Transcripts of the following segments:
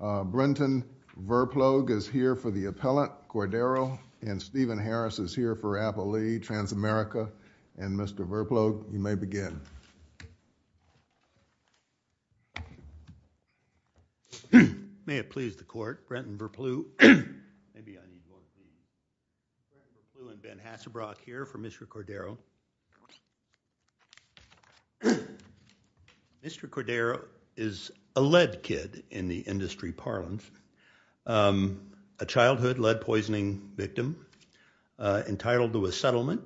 Brenton Verplug is here for the appellant, Cordero, and Stephen Harris is here for Appelee, Transamerica. And Mr. Verplug, you may begin. May it please the court, Brenton Verplug and Ben Hassebrock here for Mr. Cordero. Mr. Cordero is a lead kid in the industry parlance, a childhood lead poisoning victim entitled to a settlement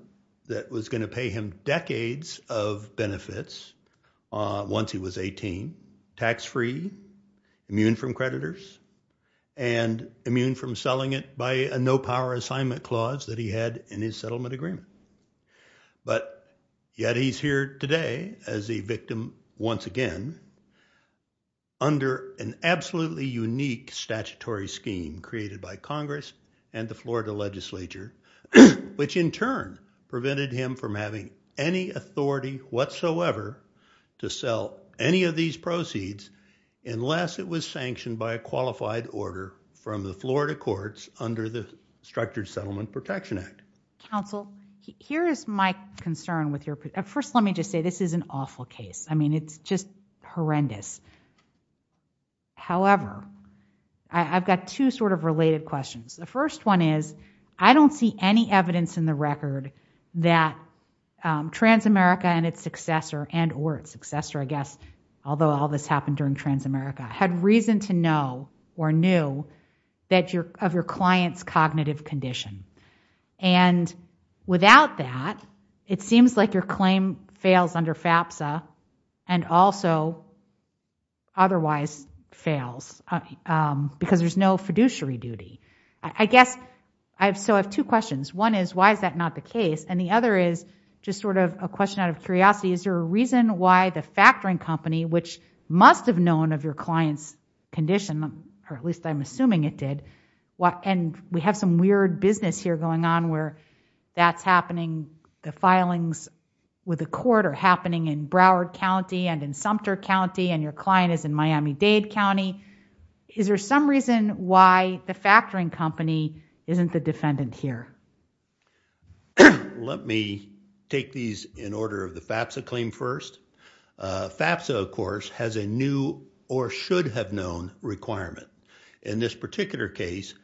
that was going to pay him decades of benefits once he was 18, tax-free, immune from creditors, and immune from selling it by a no-power assignment clause that he had in his settlement agreement. But yet he's here today as a victim once again under an absolutely unique statutory scheme created by Congress and the Florida legislature, which in turn prevented him from having any authority whatsoever to sell any of these proceeds unless it was sanctioned by a qualified order from the Florida courts under the Structured Settlement Protection Act. Counsel, here is my concern with your... First, let me just say this is an awful case. I mean, it's just horrendous. However, I've got two sort of related questions. The first one is I don't see any evidence in the record that Transamerica and its successor and or its successor, I guess, although all this happened during Transamerica, had reason to know or knew of your client's cognitive condition. And without that, it seems like your claim fails under FAPSA and also otherwise fails because there's no fiduciary duty. So I have two questions. One is why is that not the case? And the other is just sort of a question out of curiosity. Is there a reason why the factoring company, which must have known of your client's condition, or at least I'm assuming it did, and we have some weird business here going on where that's happening, the filings with the court are happening in Broward County and in Sumter County, and your client is in Miami-Dade County. Is there some reason why the factoring company isn't the defendant here? Let me take these in order of the FAPSA claim first. FAPSA, of course, has a new or should have known requirement. In this particular case,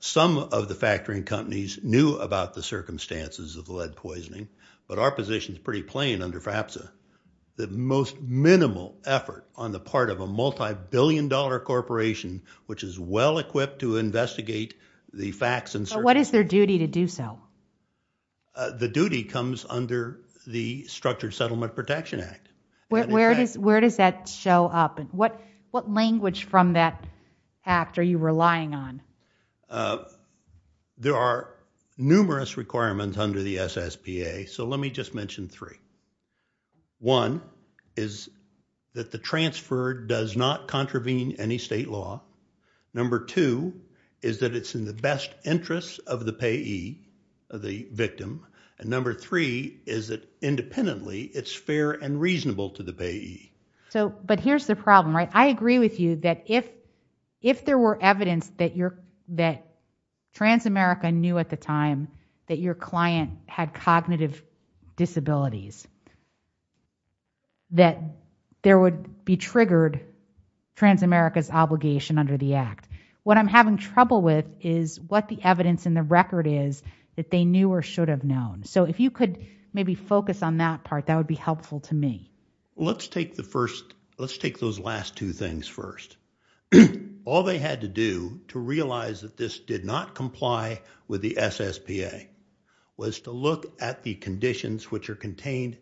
some of the factoring companies knew about the circumstances of the lead poisoning, but our position is pretty plain under FAPSA. The most minimal effort on the part of a multibillion-dollar corporation, which is well-equipped to investigate the facts and circumstances— But what is their duty to do so? The duty comes under the Structured Settlement Protection Act. Where does that show up? What language from that act are you relying on? There are numerous requirements under the SSPA, so let me just mention three. One is that the transfer does not contravene any state law. Number two is that it's in the best interest of the payee, the victim. And number three is that independently, it's fair and reasonable to the payee. But here's the problem, right? I agree with you that if there were evidence that Transamerica knew at the time that your client had cognitive disabilities, that there would be triggered Transamerica's obligation under the act. What I'm having trouble with is what the evidence in the record is that they knew or should have known. So if you could maybe focus on that part, that would be helpful to me. Let's take those last two things first. All they had to do to realize that this did not comply with the SSPA was to look at the conditions which are contained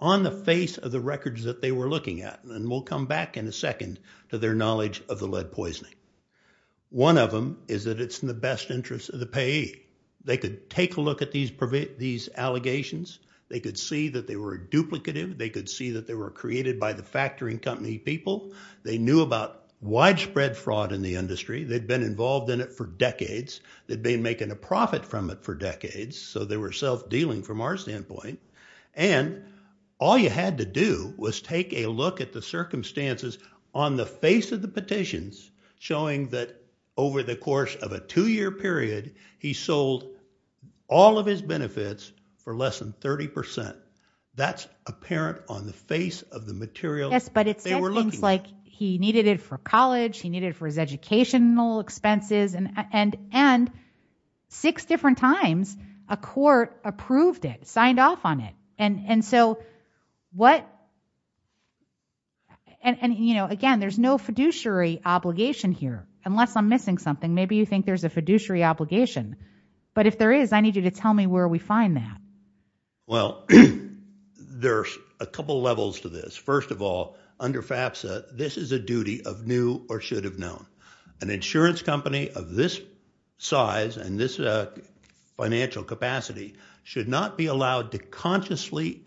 on the face of the records that they were looking at. And we'll come back in a second to their knowledge of the lead poisoning. One of them is that it's in the best interest of the payee. They could take a look at these allegations. They could see that they were duplicative. They could see that they were created by the factoring company people. They knew about widespread fraud in the industry. They'd been involved in it for decades. They'd been making a profit from it for decades. So they were self-dealing from our standpoint. And all you had to do was take a look at the circumstances on the face of the petitions showing that over the course of a two-year period, he sold all of his benefits for less than 30%. That's apparent on the face of the material that they were looking at. Yes, but it said things like he needed it for college. He needed it for his educational expenses. And six different times, a court approved it, signed off on it. And again, there's no fiduciary obligation here, unless I'm missing something. Maybe you think there's a fiduciary obligation. But if there is, I need you to tell me where we find that. Well, there's a couple levels to this. First of all, under FAFSA, this is a duty of new or should have known. An insurance company of this size and this financial capacity should not be allowed to consciously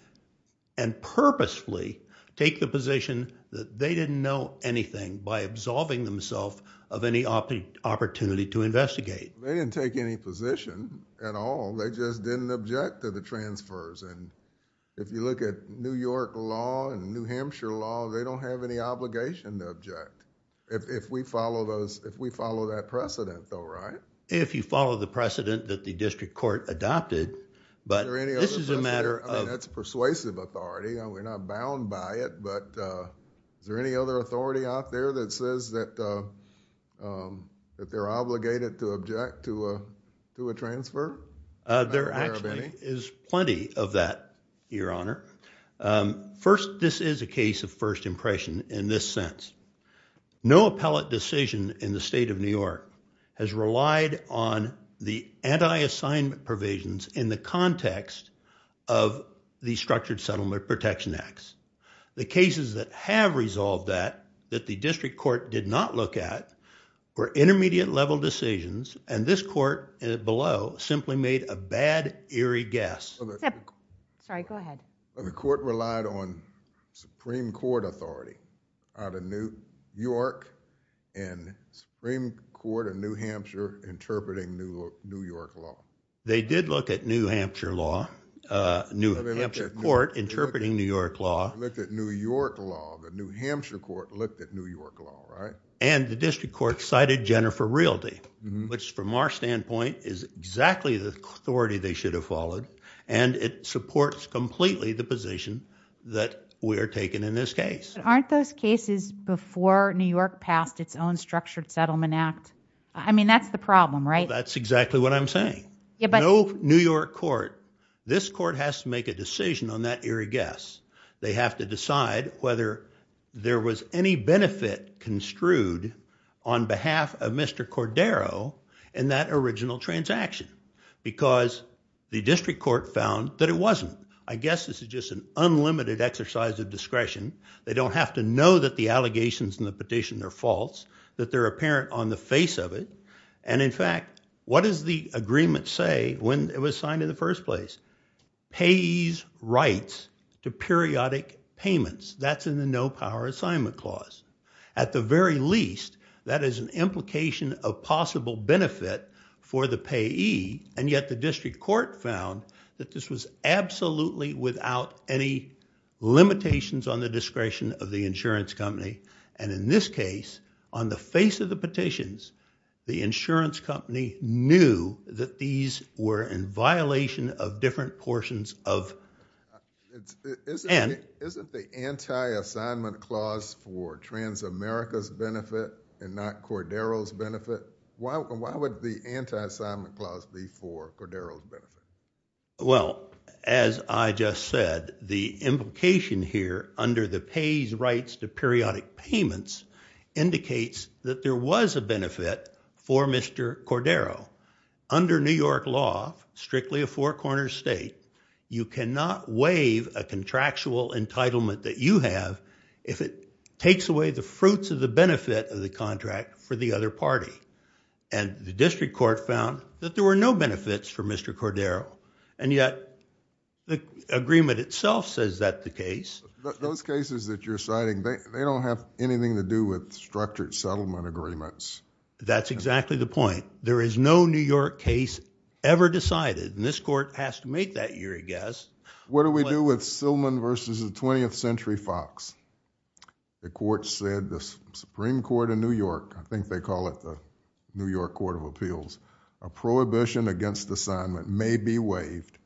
and purposefully take the position that they didn't know anything by absolving themselves of any opportunity to investigate. They didn't take any position at all. They just didn't object to the transfers. If you look at New York law and New Hampshire law, they don't have any obligation to object. If we follow that precedent though, right? If you follow the precedent that the district court adopted, but this is a matter of... I mean, that's persuasive authority. We're not bound by it, but is there any other authority out there that says that they're obligated to object to a transfer? There actually is plenty of that, Your Honor. First, this is a case of first impression in this sense. No appellate decision in the state of New York has relied on the anti-assignment provisions in the context of the Structured Settlement Protection Acts. The cases that have resolved that, that the district court did not look at, were intermediate level decisions and this court below simply made a bad, eerie guess. The court relied on Supreme Court authority out of New York and Supreme Court of New Hampshire interpreting New York law. They did look at New Hampshire law, New Hampshire court interpreting New York law. They looked at New York law. The New Hampshire court looked at New York law, right? And the district court cited Jennifer Realty, which from our standpoint is exactly the authority they should have followed and it supports completely the position that we are taking in this case. Aren't those cases before New York passed its own Structured Settlement Act? I mean, that's the problem, right? Well, that's exactly what I'm saying. No New York court, this court has to make a decision on that eerie guess. They have to decide whether there was any benefit construed on behalf of Mr. Cordero in that original transaction because the district court found that it wasn't. I guess this is just an unlimited exercise of discretion. They don't have to know that the allegations in the petition are false, that they're apparent on the face of it, and in fact, what does the agreement say when it was signed in the first place? Payee's rights to periodic payments. That's in the No Power Assignment Clause. At the very least, that is an implication of possible benefit for the payee and yet the district court found that this was absolutely without any limitations on the discretion of the insurance company and in this case, on the face of the petitions, the insurance company knew that these were in violation of different portions of... Isn't the Anti-Assignment Clause for Transamerica's benefit and not Cordero's benefit? Why would the Anti-Assignment Clause be for Cordero's benefit? Well, as I just said, the implication here under the Payee's rights to periodic payments indicates that there was a benefit for Mr. Cordero. Under New York law, strictly a four-corner state, you cannot waive a contractual entitlement that you have if it takes away the fruits of the benefit of the contract for the other party and the district court found that there were no benefits for Mr. Cordero They don't have anything to do with structured settlement agreements. That's exactly the point. There is no New York case ever decided and this court has to make that year, I guess. What do we do with Sillman versus the 20th Century Fox? The court said, the Supreme Court of New York, I think they call it the New York Court of Appeals, a prohibition against assignment may be waived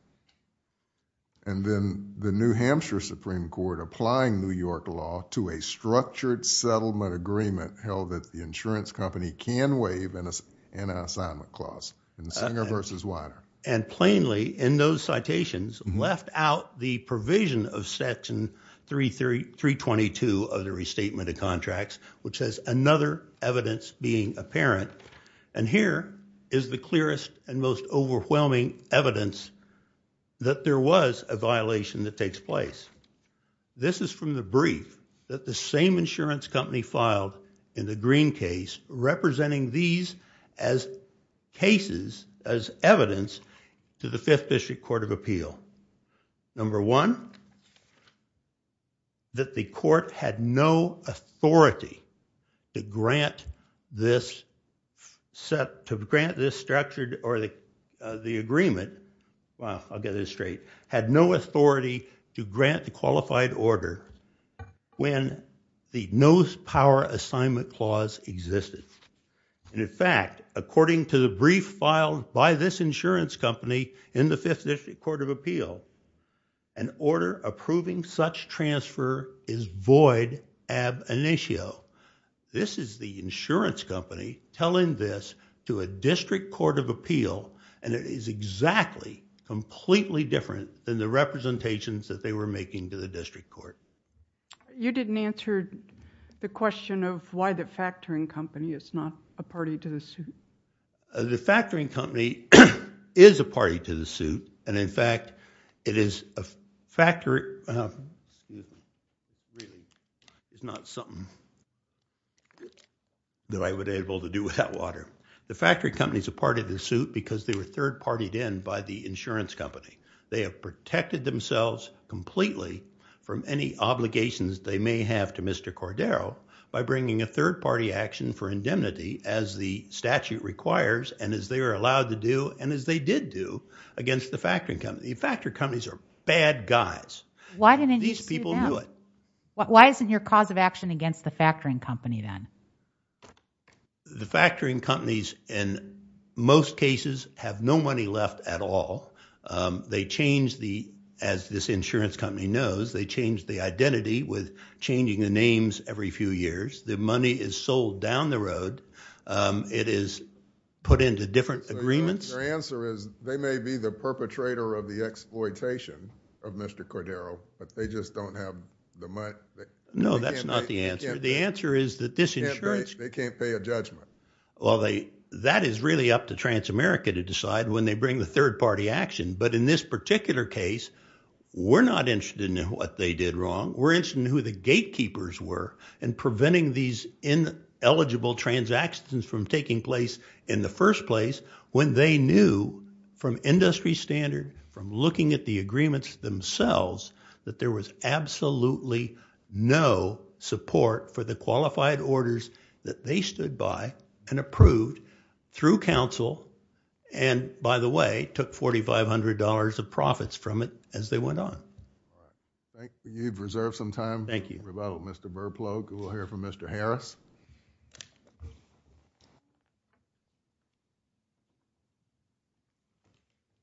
and then the New Hampshire Supreme Court applying New York law to a structured settlement agreement held that the insurance company can waive an Anti-Assignment Clause in Singer versus Weiner. And plainly in those citations left out the provision of Section 322 of the Restatement of Contracts, which has another evidence being apparent and here is the clearest and most overwhelming evidence that there was a violation that takes place. This is from the brief that the same insurance company filed in the Green case representing these as cases, as evidence to the Fifth District Court of Appeal. Number one, that the court had no authority to grant this structured or the agreement, well, I'll get this straight, had no authority to grant the qualified order when the No Power Assignment Clause existed. And in fact, according to the brief filed by this insurance company in the Fifth District Court of Appeal, an order approving such transfer is void ab initio. This is the insurance company telling this to a District Court of Appeal and it is exactly completely different than the representations that they were making to the District Court. You didn't answer the question of why the factoring company is not a party to the suit. The factoring company is a party to the suit and in fact, it is a factory, it's not something that I would able to do without water. The factory company is a part of the suit because they were third-partied in by the insurance company. They have protected themselves completely from any obligations they may have to Mr. Cordero by bringing a third-party action for indemnity as the statute requires and as they are allowed to do and as they did do against the factoring company. The factoring companies are bad guys. These people knew it. Why isn't your cause of action against the factoring company then? The factoring companies in most cases have no money left at all. They changed the, as this insurance company knows, they changed the identity with changing the names every few years. The money is sold down the road. It is put into different agreements. Your answer is they may be the perpetrator of the exploitation of Mr. Cordero but they just don't have the money. No, that's not the answer. The answer is that this insurance company— They can't pay a judgment. That is really up to Transamerica to decide when they bring the third-party action but in this particular case, we're not interested in what they did wrong. We're interested in who the gatekeepers were in preventing these ineligible transactions from taking place in the first place when they knew from industry standard, from looking at the agreements themselves, that there was absolutely no support for the qualified orders that they stood by and approved through counsel and, by the way, took $4,500 of profits from it as they went on. Thank you. You've reserved some time. Thank you. We're about Mr. Verplug who will hear from Mr. Harris.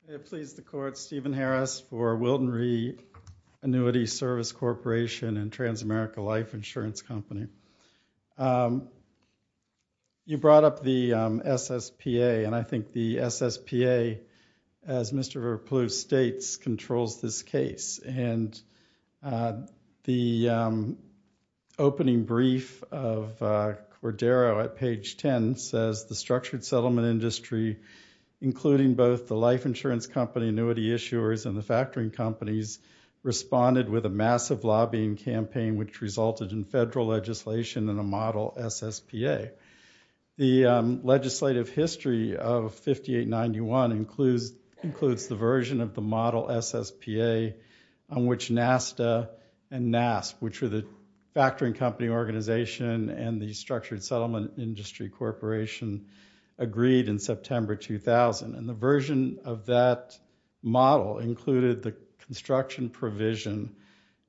May it please the court, Stephen Harris for Wilton Reed Annuity Service Corporation and Transamerica Life Insurance Company. You brought up the SSPA and I think the SSPA, as Mr. Verplug states, controls this case and the opening brief of Cordero at page 10 says, the structured settlement industry, including both the life insurance company, annuity issuers, and the factoring companies, responded with a massive lobbying campaign which resulted in federal legislation and a model SSPA. The legislative history of 5891 includes the version of the model SSPA on which NASDA and NASP, which were the factoring company organization and the structured settlement industry corporation, agreed in September 2000. And the version of that model included the construction provision,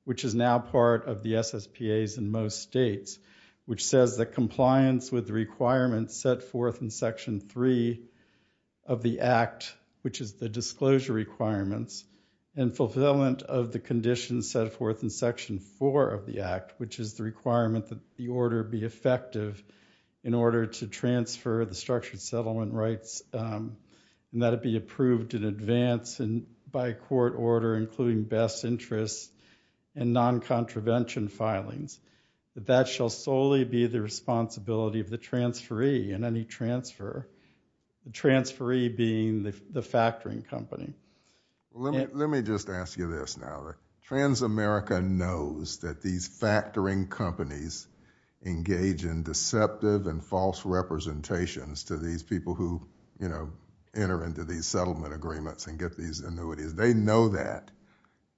which is now part of the SSPAs in most states, which says that compliance with the requirements set forth in Section 3 of the Act, which is the disclosure requirements, and fulfillment of the conditions set forth in Section 4 of the Act, which is the requirement that the order be effective in order to transfer the structured settlement rights and that it be approved in advance by a court order, including best interests and non-contravention filings. That shall solely be the responsibility of the transferee in any transfer, the transferee being the factoring company. Let me just ask you this now. Transamerica knows that these factoring companies engage in deceptive and false representations to these people who, you know, enter into these settlement agreements and get these annuities. They know that.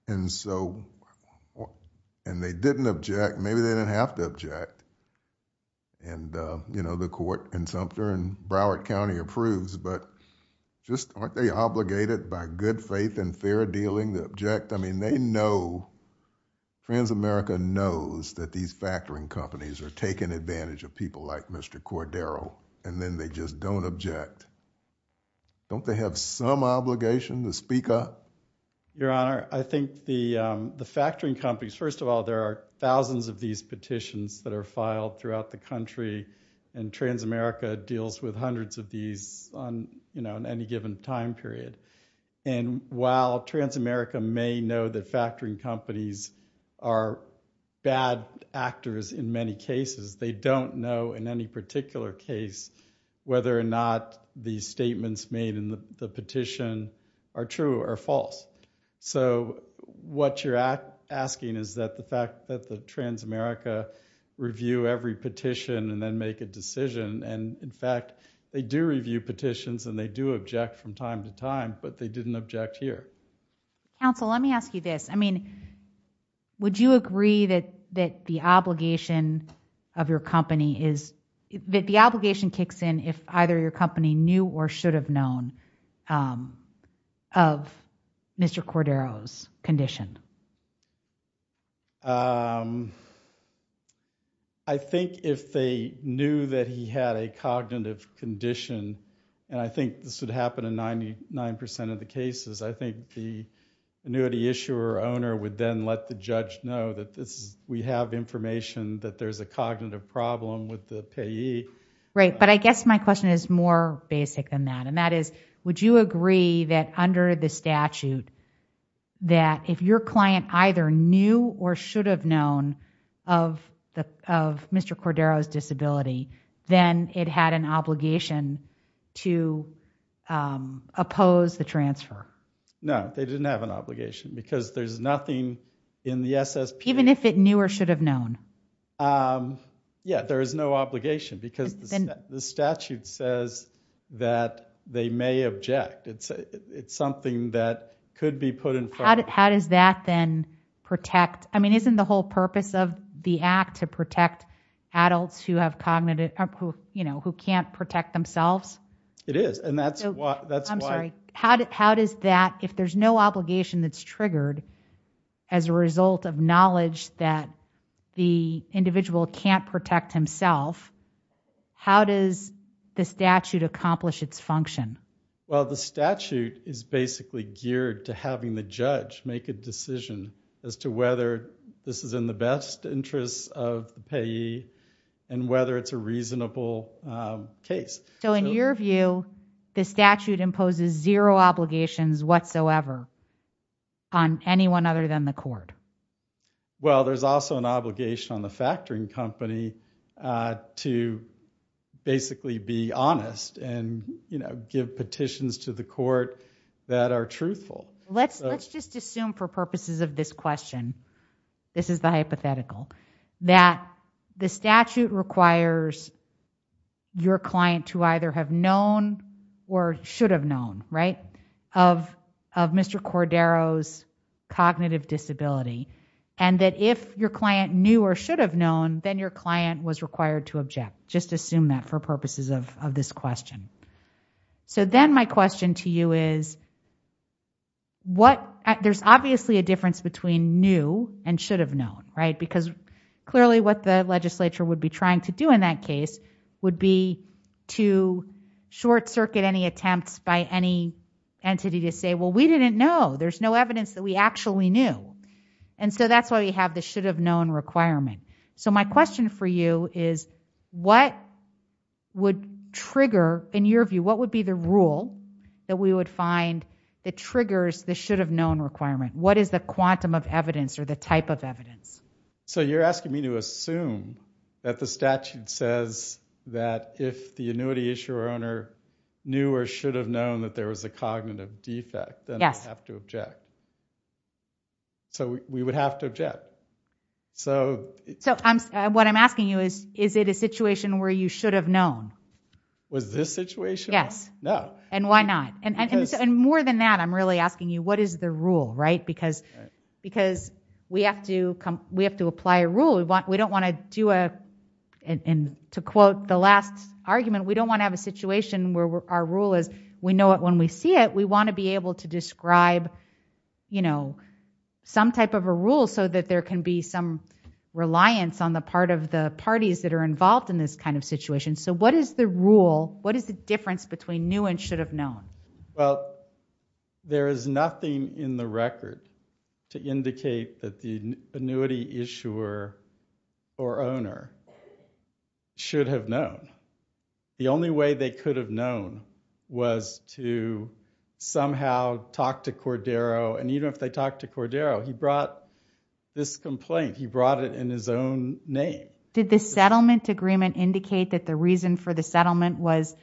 And so, and they didn't object. Maybe they didn't have to object. And, you know, the court in Sumter and Broward County approves, but just aren't they obligated by good faith and fair dealing to object? I mean, they know, Transamerica knows that these factoring companies are taking advantage of people like Mr. Cordero, and then they just don't object. Don't they have some obligation to speak up? Your Honor, I think the factoring companies, first of all, there are thousands of these petitions that are filed throughout the country, and Transamerica deals with hundreds of these on, you know, in any given time period. And while Transamerica may know that factoring companies are bad actors in many cases, they don't know in any particular case whether or not the statements made in the petition are true or false. So what you're asking is that the fact that the Transamerica review every petition and then make a decision, and in fact they do review petitions and they do object from time to time, but they didn't object here. Counsel, let me ask you this. I mean, would you agree that the obligation of your company is, that the obligation kicks in if either your company knew or should have known of Mr. Cordero's condition? I think if they knew that he had a cognitive condition, and I think this would happen in 99% of the cases, I think the annuity issuer or owner would then let the judge know that we have information that there's a cognitive problem with the payee. Right, but I guess my question is more basic than that, and that is, would you agree that under the statute, that if your client either knew or should have known of Mr. Cordero's disability, then it had an obligation to oppose the transfer? No, they didn't have an obligation because there's nothing in the SSP. Even if it knew or should have known? Yeah, there is no obligation because the statute says that they may object. It's something that could be put in front of them. How does that then protect? I mean, isn't the whole purpose of the act to protect adults who can't protect themselves? It is, and that's why. How does that, if there's no obligation that's triggered as a result of knowledge that the individual can't protect himself, how does the statute accomplish its function? Well, the statute is basically geared to having the judge make a decision as to whether this is in the best interest of the payee and whether it's a reasonable case. So in your view, the statute imposes zero obligations whatsoever on anyone other than the court? Well, there's also an obligation on the factoring company to basically be honest and give petitions to the court that are truthful. Let's just assume for purposes of this question, this is the hypothetical, that the statute requires your client to either have known or should have known of Mr. Cordero's cognitive disability, and that if your client knew or should have known, then your client was required to object. Just assume that for purposes of this question. So then my question to you is, there's obviously a difference between knew and should have known, because clearly what the legislature would be trying to do in that case would be to short-circuit any attempts by any entity to say, well, we didn't know. There's no evidence that we actually knew. And so that's why we have the should have known requirement. So my question for you is, what would trigger, in your view, what would be the rule that we would find that triggers the should have known requirement? What is the quantum of evidence or the type of evidence? So you're asking me to assume that the statute says that if the annuity issuer or owner knew or should have known that there was a cognitive defect, then I have to object. So we would have to object. So what I'm asking you is, is it a situation where you should have known? Was this situation? Yes. No. And why not? And more than that, I'm really asking you, what is the rule, right? Because we have to apply a rule. We don't want to do a, and to quote the last argument, we don't want to have a situation where our rule is, we know it when we see it. We want to be able to describe some type of a rule so that there can be some reliance on the part of the parties that are involved in this kind of situation. So what is the rule? What is the difference between new and should have known? Well, there is nothing in the record to indicate that the annuity issuer or owner should have known. The only way they could have known was to somehow talk to Cordero, and even if they talked to Cordero, he brought this complaint. He brought it in his own name. Did the settlement agreement indicate that the reason for the settlement was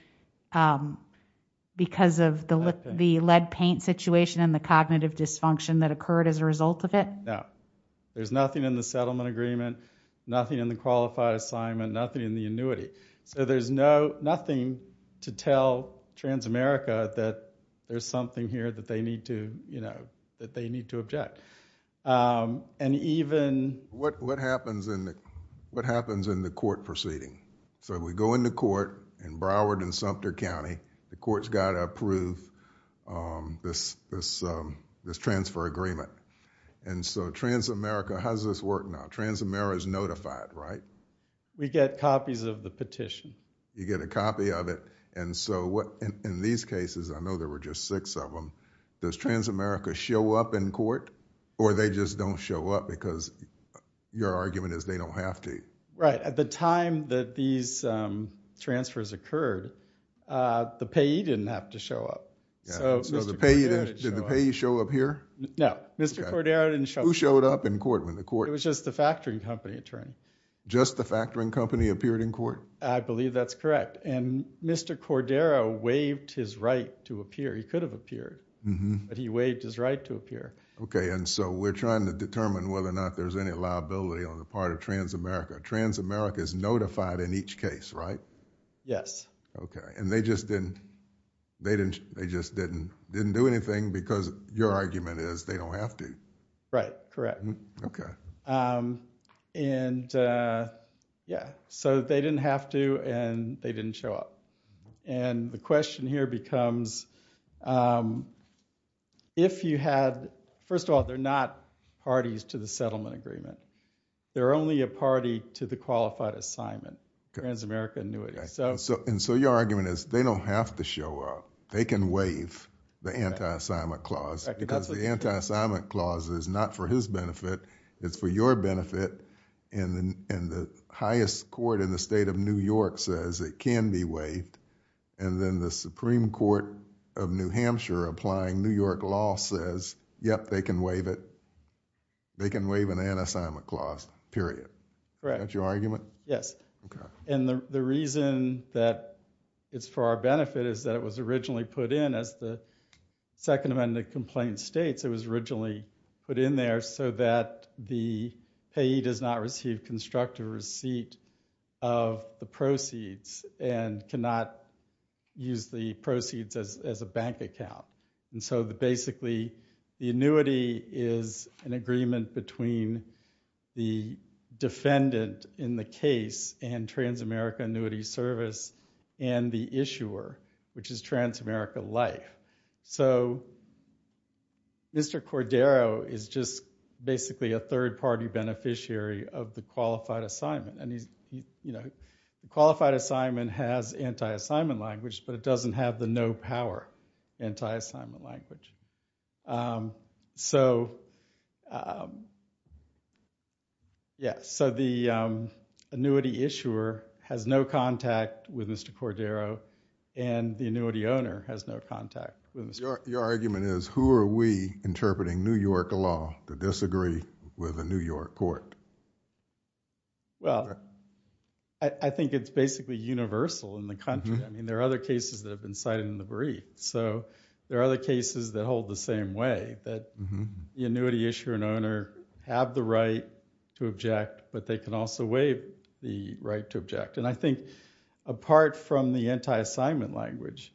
because of the lead paint situation and the cognitive dysfunction that occurred as a result of it? No. There's nothing in the settlement agreement, nothing in the qualified assignment, nothing in the annuity. So there's nothing to tell Transamerica that there's something here that they need to, you know, that they need to object. And even... What happens in the court proceeding? So we go into court in Broward and Sumter County. The court's got to approve this transfer agreement. And so Transamerica, how does this work now? Transamerica is notified, right? We get copies of the petition. You get a copy of it. And so in these cases, I know there were just six of them, does Transamerica show up in court or they just don't show up because your argument is they don't have to? Right. At the time that these transfers occurred, the payee didn't have to show up. So did the payee show up here? No. Mr. Cordero didn't show up. Who showed up in court? It was just the factoring company attorney. Just the factoring company appeared in court? I believe that's correct. And Mr. Cordero waived his right to appear. He could have appeared, but he waived his right to appear. Okay. And so we're trying to determine whether or not there's any liability on the part of Transamerica. Transamerica is notified in each case, right? Yes. Okay. And they just didn't do anything because your argument is they don't have to? Right. Correct. Okay. And yeah. So they didn't have to and they didn't show up. And the question here becomes if you had – first of all, they're not parties to the settlement agreement. They're only a party to the qualified assignment, Transamerica annuity. And so your argument is they don't have to show up. They can waive the anti-assignment clause because the anti-assignment clause is not for his benefit. It's for your benefit. And the highest court in the state of New York says it can be waived. And then the Supreme Court of New Hampshire applying New York law says, yep, they can waive it. They can waive an anti-assignment clause, period. Correct. Is that your argument? Yes. Okay. And the reason that it's for our benefit is that it was originally put in as the second amendment complaint states it was originally put in there so that the payee does not receive constructive receipt of the proceeds and cannot use the proceeds as a bank account. And so basically the annuity is an agreement between the defendant in the case and Transamerica annuity service and the issuer, which is Transamerica Life. So Mr. Cordero is just basically a third-party beneficiary of the qualified assignment. And the qualified assignment has anti-assignment language, but it doesn't have the no power anti-assignment language. So the annuity issuer has no contact with Mr. Cordero and the annuity owner has no contact with Mr. Cordero. Your argument is who are we interpreting New York law to disagree with the New York court? Well, I think it's basically universal in the country. I mean, there are other cases that have been cited in the brief. So there are other cases that hold the same way, that the annuity issuer and owner have the right to object, but they can also waive the right to object. And I think apart from the anti-assignment language,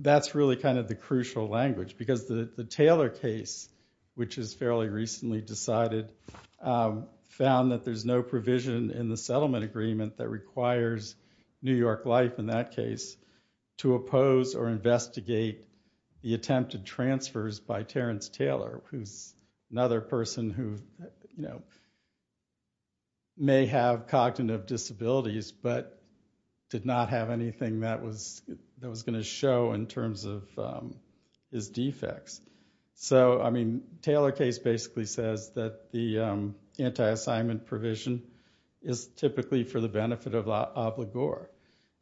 that's really kind of the crucial language because the Taylor case, which is fairly recently decided, found that there's no provision in the settlement agreement that requires New York Life, in that case, to oppose or investigate the attempted transfers by Terrence Taylor, who's another person who may have cognitive disabilities but did not have anything that was going to show in terms of his defects. So, I mean, Taylor case basically says that the anti-assignment provision is typically for the benefit of LaGuard.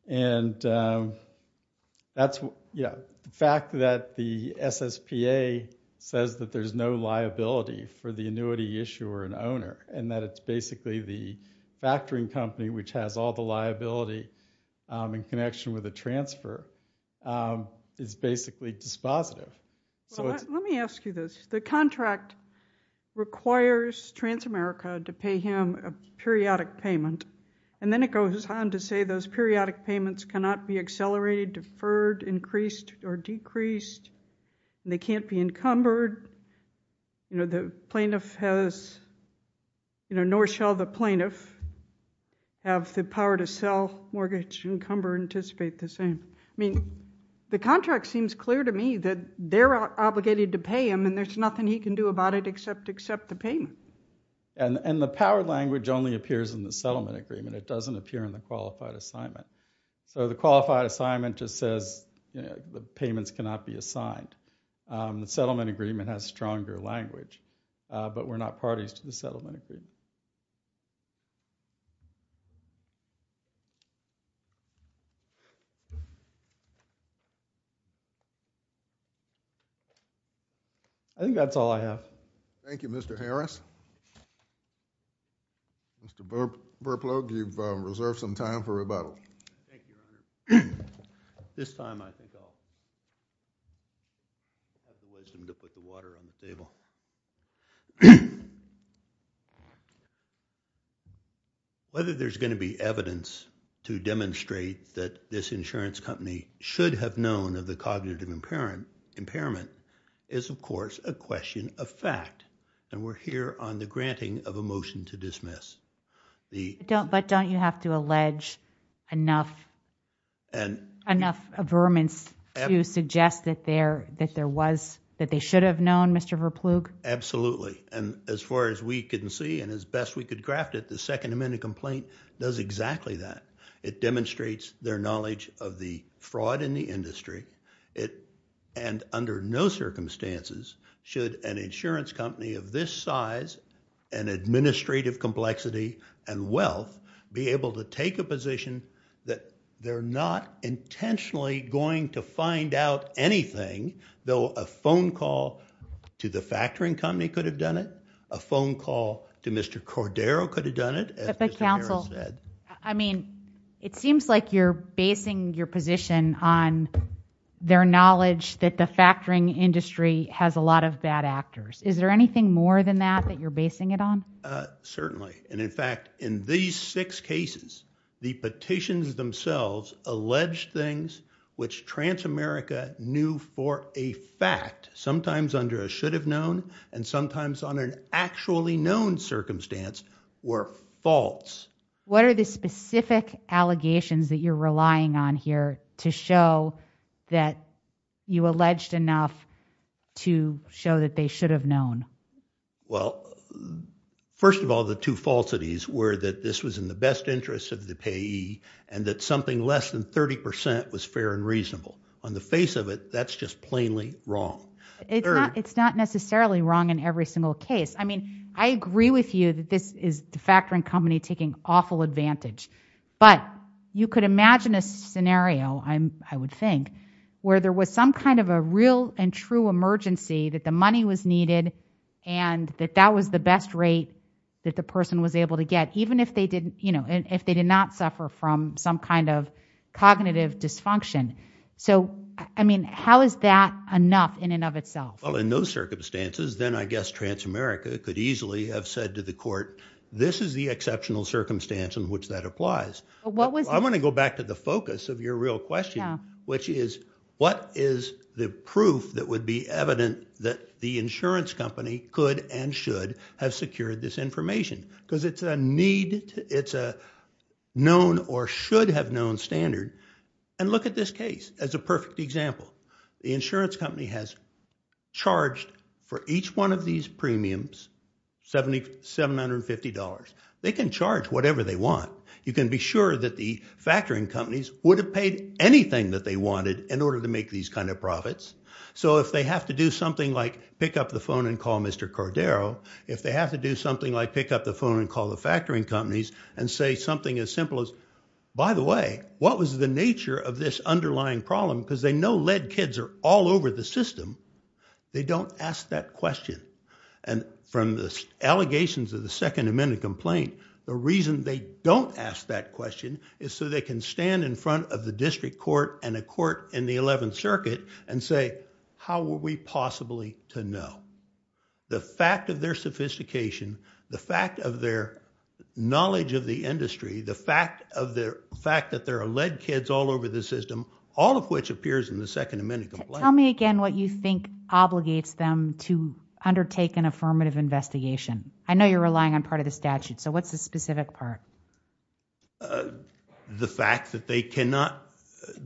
And the fact that the SSPA says that there's no liability for the annuity issuer and owner and that it's basically the factoring company which has all the liability in connection with the transfer is basically dispositive. Well, let me ask you this. The contract requires Transamerica to pay him a periodic payment, and then it goes on to say those periodic payments cannot be accelerated, deferred, increased, or decreased. They can't be encumbered. You know, the plaintiff has, you know, nor shall the plaintiff have the power to sell, mortgage, encumber, anticipate the same. I mean, the contract seems clear to me that they're obligated to pay him and there's nothing he can do about it except accept the payment. And the power language only appears in the settlement agreement. It doesn't appear in the qualified assignment. So the qualified assignment just says, you know, the payments cannot be assigned. The settlement agreement has stronger language, but we're not parties to the settlement agreement. I think that's all I have. Thank you, Mr. Harris. Mr. Burplow, you've reserved some time for rebuttal. Thank you, Your Honor. This time I think I'll have to waste them to put the water on the table. Whether there's going to be evidence to demonstrate that this insurance company should have known of the cognitive impairment is, of course, a question of fact. And we're here on the granting of a motion to dismiss. But don't you have to allege enough averments to suggest that there was, that they should have known, Mr. Burplow? Absolutely. And as far as we can see and as best we could graft it, the Second Amendment complaint does exactly that. It demonstrates their knowledge of the fraud in the industry. And under no circumstances should an insurance company of this size and administrative complexity and wealth be able to take a position that they're not intentionally going to find out anything, though a phone call to the factoring company could have done it, a phone call to Mr. Cordero could have done it. But counsel, I mean, it seems like you're basing your position on their knowledge that the factoring industry has a lot of bad actors. Is there anything more than that that you're basing it on? Certainly. And in fact, in these six cases, the petitions themselves allege things which Transamerica knew for a fact, sometimes under a should have known and sometimes on an actually known circumstance were false. What are the specific allegations that you're relying on here to show that you alleged enough to show that they should have known? Well, first of all, the two falsities were that this was in the best interest of the payee and that something less than 30% was fair and reasonable. On the face of it, that's just plainly wrong. It's not necessarily wrong in every single case. I mean, I agree with you that this is the factoring company taking awful advantage. But you could imagine a scenario, I would think, where there was some kind of a real and true emergency that the money was needed and that that was the best rate that the person was able to get, even if they did not suffer from some kind of cognitive dysfunction. So, I mean, how is that enough in and of itself? Well, in those circumstances, then I guess Transamerica could easily have said to the court, this is the exceptional circumstance in which that applies. I want to go back to the focus of your real question, which is what is the proof that would be evident that the insurance company could and should have secured this information? Because it's a need, it's a known or should have known standard. And look at this case as a perfect example. The insurance company has charged for each one of these premiums $750. They can charge whatever they want. You can be sure that the factoring companies would have paid anything that they wanted in order to make these kind of profits. So if they have to do something like pick up the phone and call Mr. Cordero, if they have to do something like pick up the phone and call the factoring companies and say something as simple as, by the way, what was the nature of this underlying problem? Because they know lead kids are all over the system. They don't ask that question. And from the allegations of the Second Amendment complaint, the reason they don't ask that question is so they can stand in front of the district court and a court in the 11th Circuit and say, how were we possibly to know? The fact of their sophistication, the fact of their knowledge of the industry, the fact that there are lead kids all over the system, all of which appears in the Second Amendment complaint. Tell me again what you think obligates them to undertake an affirmative investigation. I know you're relying on part of the statute, so what's the specific part? The fact that they cannot,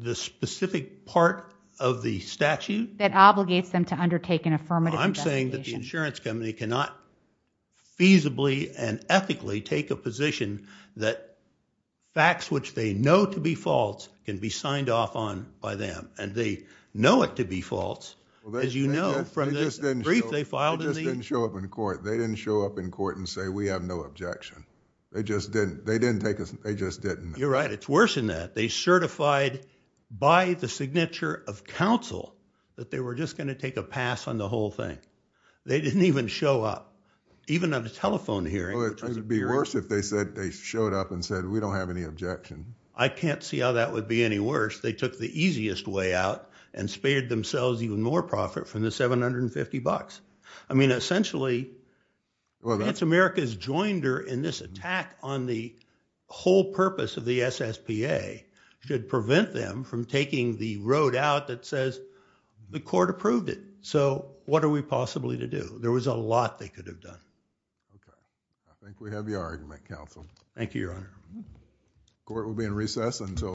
the specific part of the statute? That obligates them to undertake an affirmative investigation. I'm saying that the insurance company cannot feasibly and ethically take a position that facts which they know to be false can be signed off on by them. And they know it to be false, as you know, from the brief they filed in the... They just didn't show up in court. They didn't show up in court and say, we have no objection. They just didn't, they didn't take a, they just didn't. You're right, it's worse than that. They certified by the signature of counsel that they were just going to take a pass on the whole thing. They didn't even show up. Even at a telephone hearing. Well, it would be worse if they said, they showed up and said, we don't have any objection. I can't see how that would be any worse. They took the easiest way out and spared themselves even more profit from the 750 bucks. I mean, essentially, it's America's joinder in this attack on the whole purpose of the SSPA should prevent them from taking the road out that says the court approved it. So what are we possibly to do? There was a lot they could have done. Okay. I think we have your argument, counsel. Thank you, Your Honor. Court will be in recess until...